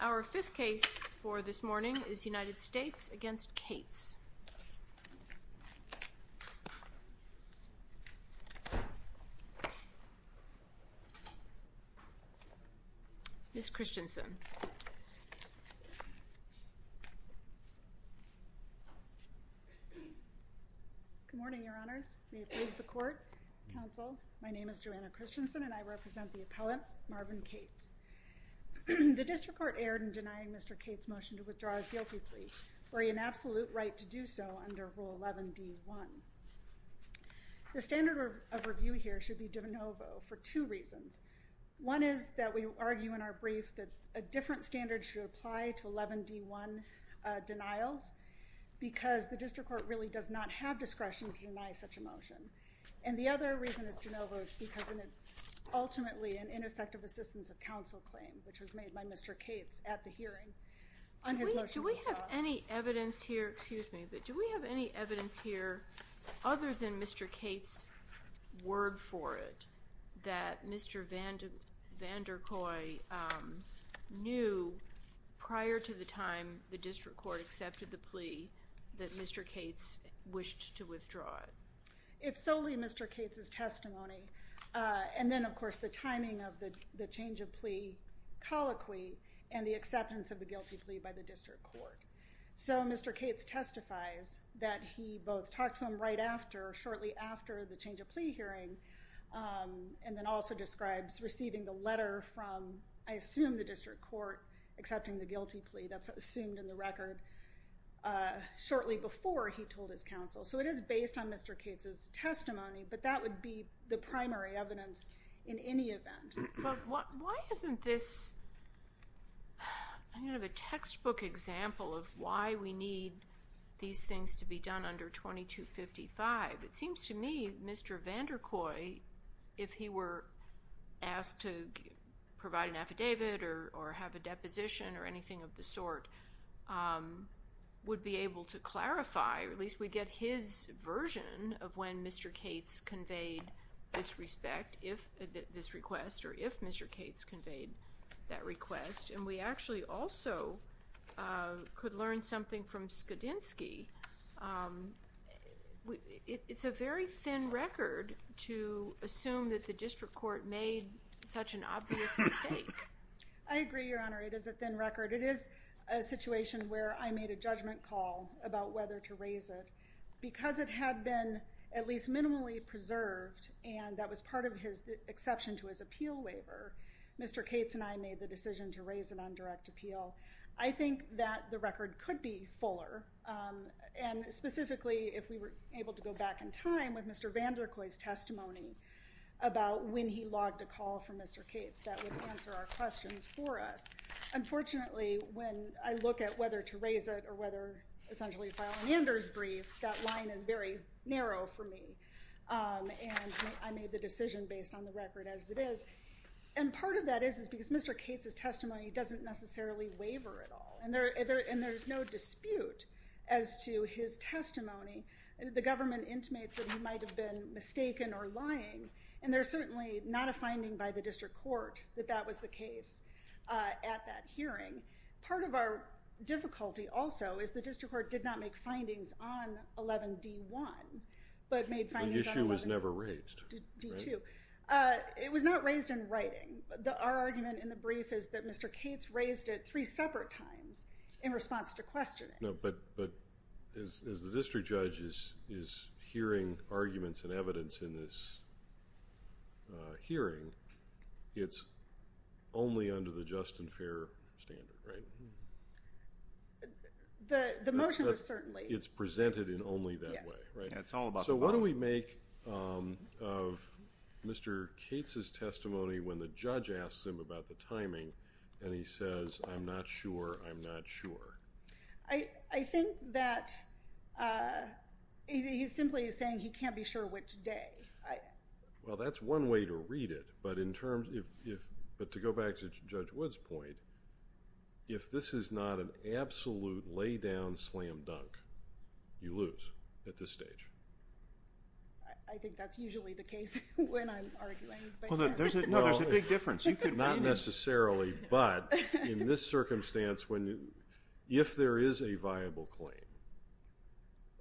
Our fifth case for this morning is United States v. Cates, Ms. Christensen. Good morning, your honors. May it please the court, counsel. My name is Joanna Christensen and I represent the appellant, Marvin Cates. The district court erred in denying Mr. Cates' motion to withdraw his guilty plea, for he had an absolute right to do so under Rule 11d1. The standard of review here should be de novo for two reasons. One is that we argue in our brief that a different standard should apply to 11d1 denials, because the district court really does not have discretion to deny such a motion. And the other reason is de novo is because it's ultimately an ineffective assistance of counsel claim, which was made by Mr. Cates at the hearing on his motion to withdraw. Do we have any evidence here, other than Mr. Cates' word for it, that Mr. Vandercoy knew, prior to the time the district court accepted the plea, that Mr. Cates wished to withdraw it? It's solely Mr. Cates' testimony, and then of course the timing of the change of plea colloquy and the acceptance of the guilty plea by the district court. So Mr. Cates testifies that he both talked to him right after, shortly after the change of plea hearing, and then also describes receiving the letter from, I assume the district court, accepting the guilty plea, that's assumed in the record, shortly before he told his counsel. So it is based on Mr. Cates' testimony, but that would be the primary evidence in any event. But why isn't this, I mean, of a textbook example of why we need these things to be asked to provide an affidavit or have a deposition or anything of the sort, would be able to clarify, or at least we'd get his version of when Mr. Cates conveyed this request, or if Mr. Cates conveyed that request, and we actually also could learn something from Skadinski. It's a very thin record to assume that the district court made such an obvious mistake. I agree, Your Honor. It is a thin record. It is a situation where I made a judgment call about whether to raise it. Because it had been at least minimally preserved, and that was part of his exception to his appeal waiver, Mr. Cates and I made the decision to raise it on direct appeal. I think that the record could be fuller, and specifically if we were able to go back in time with Mr. Vander Kooi's testimony about when he logged a call from Mr. Cates, that would answer our questions for us. Unfortunately, when I look at whether to raise it or whether essentially file an Anders brief, that line is very narrow for me, and I made the decision based on the record as it is. And part of that is because Mr. Cates' testimony doesn't necessarily waiver at all, and there's no dispute as to his testimony. The government intimates that he might have been mistaken or lying, and there's certainly not a finding by the district court that that was the case at that hearing. Part of our difficulty also is the district court did not make findings on 11d1, but made findings on 11d2. The issue was never raised. It was not raised in writing. Our argument in the brief is that Mr. Cates raised it three separate times in response to questioning. But as the district judge is hearing arguments and evidence in this hearing, it's only under the just and fair standard, right? The motion was certainly... It's presented in only that way, right? That's all about... The timing, and he says, I'm not sure, I'm not sure. I think that he simply is saying he can't be sure which day. Well, that's one way to read it, but in terms... But to go back to Judge Wood's point, if this is not an absolute lay-down slam dunk, you lose at this stage. I think that's usually the case when I'm arguing, but... No, there's a big difference. You could... Not necessarily, but in this circumstance, if there is a viable claim,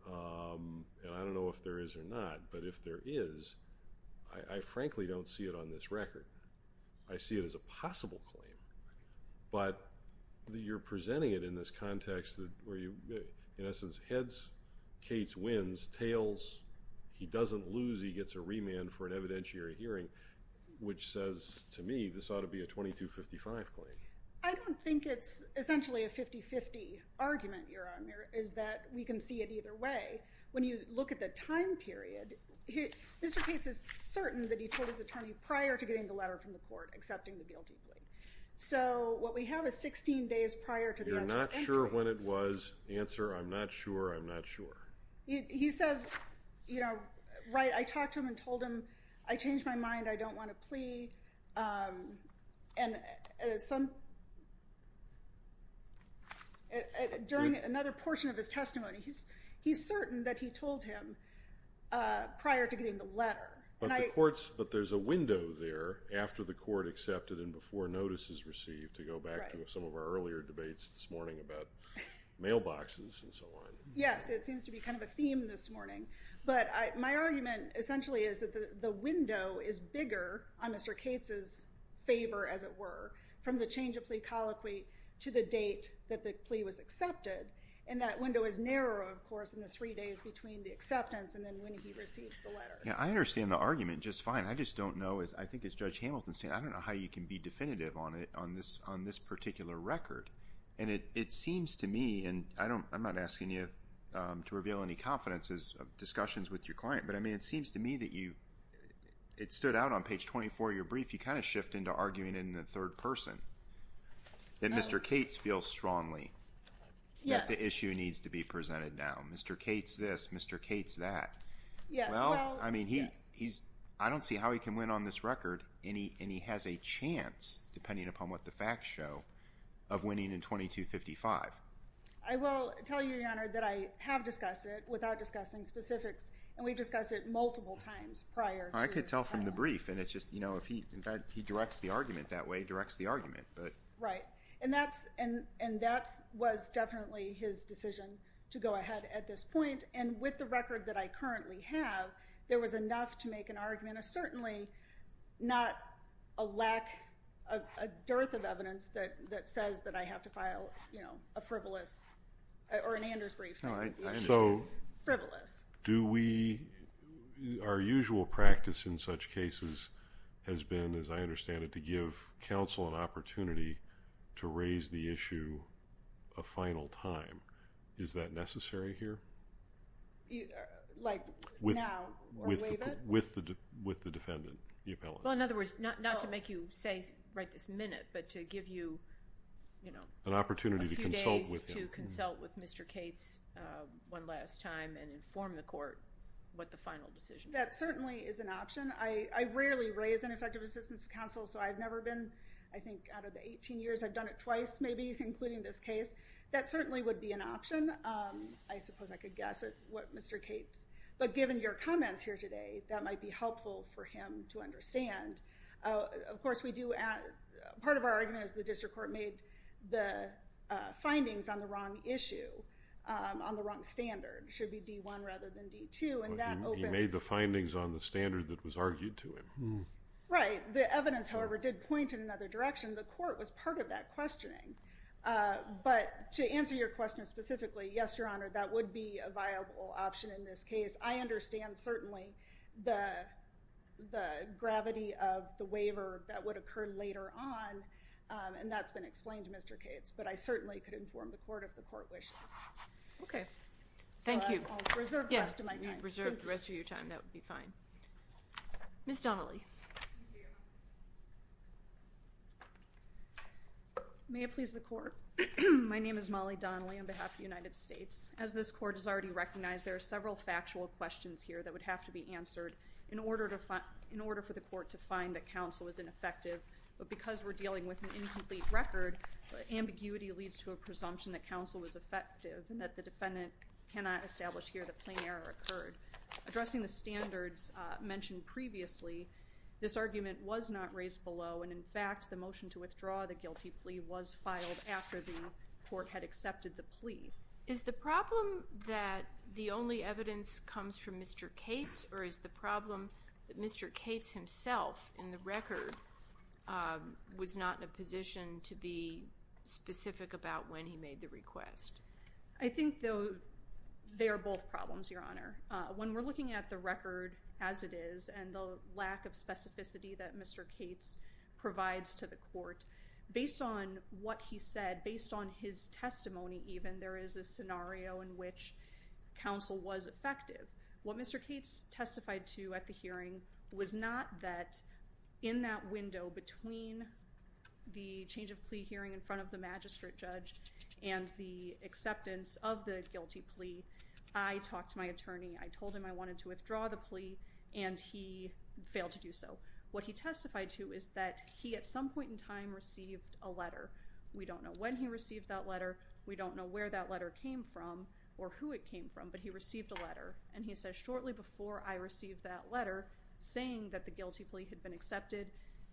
and I don't know if there is or not, but if there is, I frankly don't see it on this record. I see it as a possible claim, but you're presenting it in this context where you, in essence, heads, Kates wins, tails, he doesn't lose, he gets a remand for an evidentiary hearing, which says to me, this ought to be a 2255 claim. I don't think it's essentially a 50-50 argument, Your Honor, is that we can see it either way. When you look at the time period, Mr. Kates is certain that he told his attorney prior to getting the letter from the court accepting the guilty plea. So, what we have is 16 days prior to... I'm not sure when it was, answer, I'm not sure, I'm not sure. He says, right, I talked to him and told him, I changed my mind, I don't want a plea. During another portion of his testimony, he's certain that he told him prior to getting the letter. But the court's... but there's a window there after the court accepted and before notice is received to go back to some of our earlier debates this morning about mailboxes and so on. Yes, it seems to be kind of a theme this morning. But my argument essentially is that the window is bigger on Mr. Kates' favor, as it were, from the change of plea colloquy to the date that the plea was accepted. And that window is narrower, of course, in the three days between the acceptance and then when he receives the letter. Yeah, I understand the argument just fine. I just don't know, I think as Judge Hamilton said, I don't know how you can be definitive on this particular record. And it seems to me, and I'm not asking you to reveal any confidences of discussions with your client, but I mean it seems to me that you... it stood out on page 24 of your brief, you kind of shift into arguing it in the third person, that Mr. Kates feels strongly that the issue needs to be presented now. Mr. Kates this, Mr. Kates that. Well, I mean, I don't see how he can win on this record, and he has a chance, depending upon what the facts show, of winning in 2255. I will tell you, Your Honor, that I have discussed it, without discussing specifics, and we discussed it multiple times prior to... I could tell from the brief, and it's just, you know, if he, in fact, he directs the argument that way, he directs the argument, but... Right. And that was definitely his decision to go ahead at this point, and with the record that I currently have, there was enough to make an argument, and certainly not a lack of... a dearth of evidence that says that I have to file, you know, a frivolous... or an Anders brief... So...... frivolous. Do we... our usual practice in such cases has been, as I understand it, to give counsel an opportunity to raise the issue a final time. Is that necessary here? Like, now, or later? With the defendant, the appellant. Well, in other words, not to make you say, right this minute, but to give you, you know... An opportunity to consult with him.... a few days to consult with Mr. Cates one last time, and inform the court what the final decision is. That certainly is an option. I rarely raise ineffective assistance of counsel, so I've never been... I think out of the eighteen years, I've done it twice, maybe, including this case. That certainly would be an option. I suppose I could guess at what Mr. Cates... but given your comments here today, that might be helpful for him to understand. Of course, we do... part of our argument is the district court made the findings on the wrong issue, on the wrong standard. It should be D-1 rather than D-2, and that opens... He made the findings on the standard that was argued to him. Right. The evidence, however, did point in another direction. The court was part of that Yes, Your Honor, that would be a viable option in this case. I understand, certainly, the gravity of the waiver that would occur later on, and that's been explained to Mr. Cates, but I certainly could inform the court if the court wishes. Okay. Thank you. I'll reserve the rest of my time. You can reserve the rest of your time. That would be fine. Ms. Donnelly. Thank you. May it please the court? My name is Molly Donnelly on behalf of the United States. As this court has already recognized, there are several factual questions here that would have to be answered in order for the court to find that counsel was ineffective. But because we're dealing with an incomplete record, ambiguity leads to a presumption that counsel was effective and that the defendant cannot establish here that plain error occurred. Addressing the standards mentioned previously, this argument was not raised below, and, in fact, the motion to withdraw the guilty plea was filed after the court had accepted the plea. Is the problem that the only evidence comes from Mr. Cates, or is the problem that Mr. Cates himself, in the record, was not in a position to be specific about when he made the request? I think they are both problems, Your Honor. When we're looking at the record as it is and the lack of specificity that Mr. Cates provides to the court, based on what he said, based on his testimony even, there is a scenario in which counsel was effective. What Mr. Cates testified to at the hearing was not that in that window between the change of plea hearing in front of the magistrate judge and the acceptance of the guilty plea, I talked to my attorney. I told him I wanted to withdraw the plea, and he failed to do so. What he testified to is that he, at some point in time, received a letter. We don't know when he received that letter. We don't know where that letter came from or who it came from, but he received a letter. And he said, shortly before I received that letter, saying that the guilty plea had been accepted,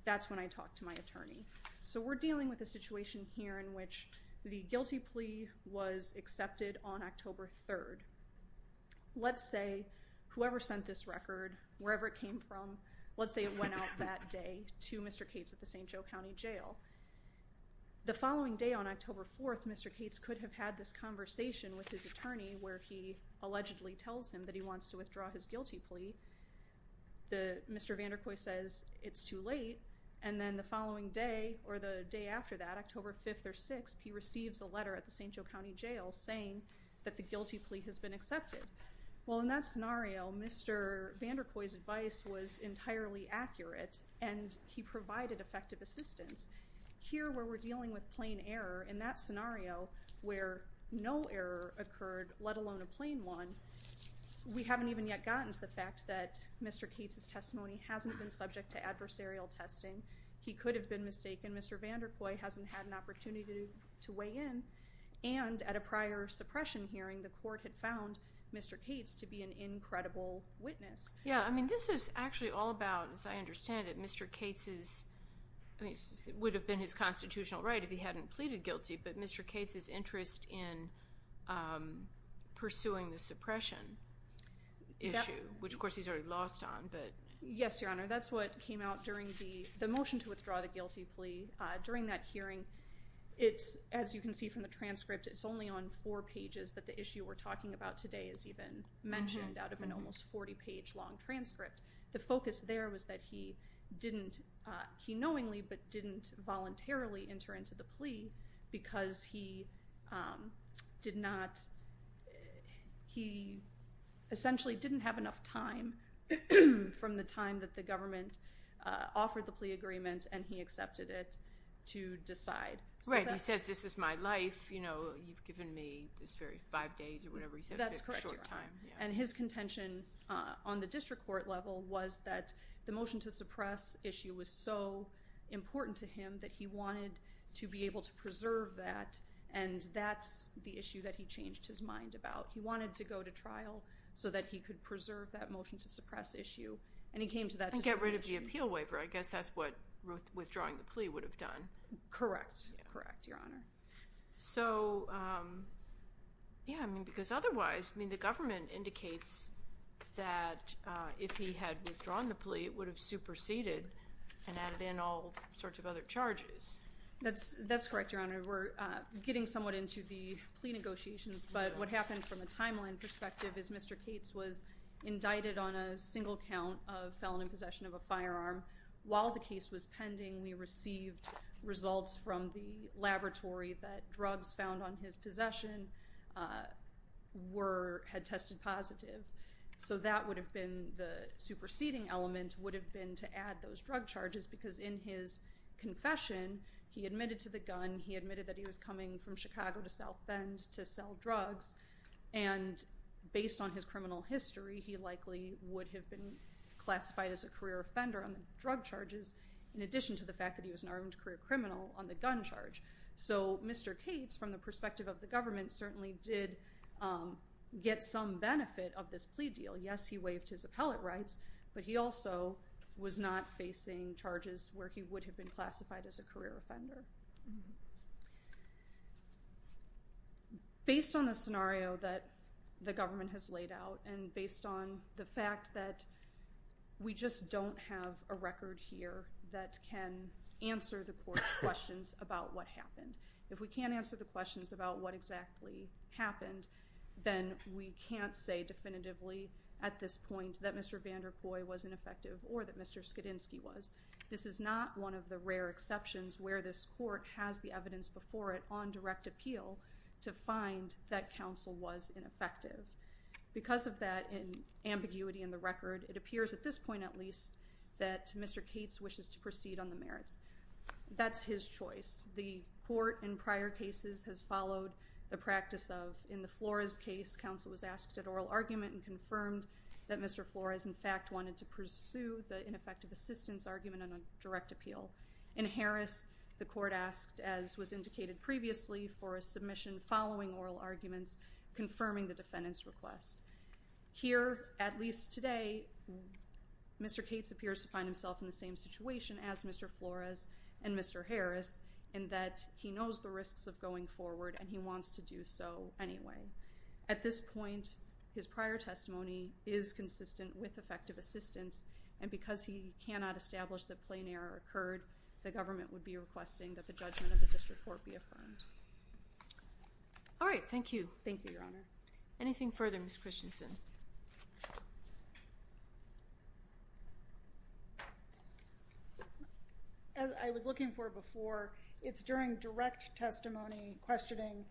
that's when I talked to my attorney. So we're dealing with a situation here in which the guilty plea was accepted on October 3rd. Let's say whoever sent this record, wherever it came from, let's say it went out that day to Mr. Cates at the St. Joe County Jail. The following day on October 4th, Mr. Cates could have had this conversation with his attorney where he allegedly tells him that he wants to withdraw his guilty plea. Mr. Vander Kooi says it's too late, and then the following day or the day after that, October 5th or 6th, he receives a letter at the St. Joe County Jail saying that the guilty plea has been accepted. Well, in that scenario, Mr. Vander Kooi's advice was entirely accurate, and he provided effective assistance. Here where we're dealing with plain error, in that scenario where no error occurred, let alone a plain one, we haven't even yet gotten to the fact that Mr. Cates' testimony hasn't been subject to adversarial testing. He could have been mistaken. Mr. Vander Kooi hasn't had an opportunity to weigh in. And at a prior suppression hearing, the court had found Mr. Cates to be an incredible witness. Yeah, I mean this is actually all about, as I understand it, Mr. Cates' I mean it would have been his constitutional right if he hadn't pleaded guilty, but Mr. Cates' interest in pursuing the suppression issue, which of course he's already lost on. Yes, Your Honor, that's what came out during the motion to withdraw the guilty plea. During that hearing, as you can see from the transcript, it's only on four pages that the issue we're talking about today is even mentioned out of an almost 40-page long transcript. The focus there was that he didn't, he knowingly but didn't voluntarily enter into the plea because he did not, he essentially didn't have enough time from the time that the government offered the plea agreement and he accepted it to decide. Right, he says this is my life, you know, you've given me this very five days or whatever he said, and his contention on the district court level was that the motion to suppress issue was so important to him that he wanted to be able to preserve that and that's the issue that he changed his mind about. He wanted to go to trial so that he could preserve that motion to suppress issue and he came to that decision. And get rid of the appeal waiver, I guess that's what withdrawing the plea would have done. Correct, correct, Your Honor. So, yeah, because otherwise, the government indicates that if he had withdrawn the plea, it would have superseded and added in all sorts of other charges. That's correct, Your Honor. We're getting somewhat into the plea negotiations, but what happened from a timeline perspective is Mr. Cates was indicted on a single count of felon in possession of a firearm. While the case was pending, we received results from the laboratory that drugs found on his possession had tested positive. So that would have been the superseding element, would have been to add those drug charges because in his confession, he admitted to the gun, he admitted that he was coming from Chicago to South Bend to sell drugs, and based on his criminal history, he likely would have been classified as a career offender on the drug charges in addition to the fact that he was an armed career criminal on the gun charge. So Mr. Cates, from the perspective of the government, certainly did get some benefit of this plea deal. Yes, he waived his appellate rights, but he also was not facing charges where he would have been classified as a career offender. Based on the scenario that the government has laid out and based on the fact that we just don't have a record here that can answer the court's questions about what happened. If we can't answer the questions about what exactly happened, then we can't say definitively at this point that Mr. Vander Kooi was ineffective or that Mr. Skidinski was. This is not one of the rare exceptions where this court has the evidence before it on direct appeal to find that counsel was ineffective. Because of that ambiguity in the record, it appears at this point at least that Mr. Cates wishes to proceed on the merits. That's his choice. The court in prior cases has followed the practice of, in the Flores case, counsel was asked at oral argument and confirmed that Mr. Flores, in fact, wanted to pursue the ineffective assistance argument on a direct appeal. In Harris, the court asked, as was indicated previously for a submission following oral arguments, confirming the defendant's request. Here, at least today, Mr. Cates appears to find himself in the same situation as Mr. Flores and Mr. Harris in that he knows the risks of going forward and he wants to do so anyway. At this point, his prior testimony is consistent with effective assistance, and because he cannot establish that plain error occurred, the government would be requesting that the judgment of the district court be affirmed. All right, thank you. Thank you, Your Honor. Anything further, Ms. Christensen? As I was looking for before, it's during direct testimony questioning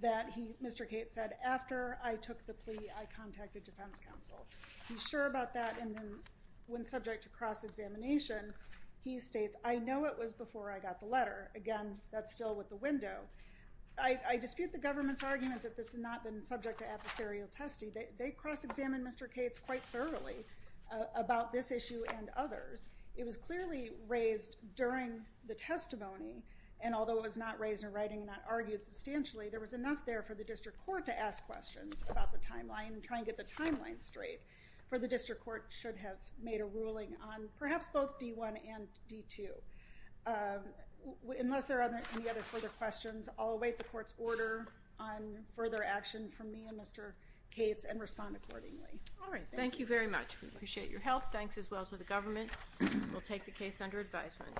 that Mr. Cates said, after I took the plea, I contacted defense counsel. He's sure about that, and then when subject to cross-examination, he states, I know it was before I got the letter. Again, that's still with the window. I dispute the government's argument that this had not been subject to adversarial testing. They cross-examined Mr. Cates quite thoroughly about this issue and others. It was clearly raised during the testimony, and although it was not raised in writing and not argued substantially, there was enough there for the district court to ask questions about the timeline and try and get the timeline straight, for the district court should have made a ruling on perhaps both D1 and D2. Unless there are any other further questions, I'll await the court's order on further action from me and Mr. Cates and respond accordingly. All right, thank you. Thank you very much. We appreciate your help. Thanks as well to the government. We'll take the case under advisement.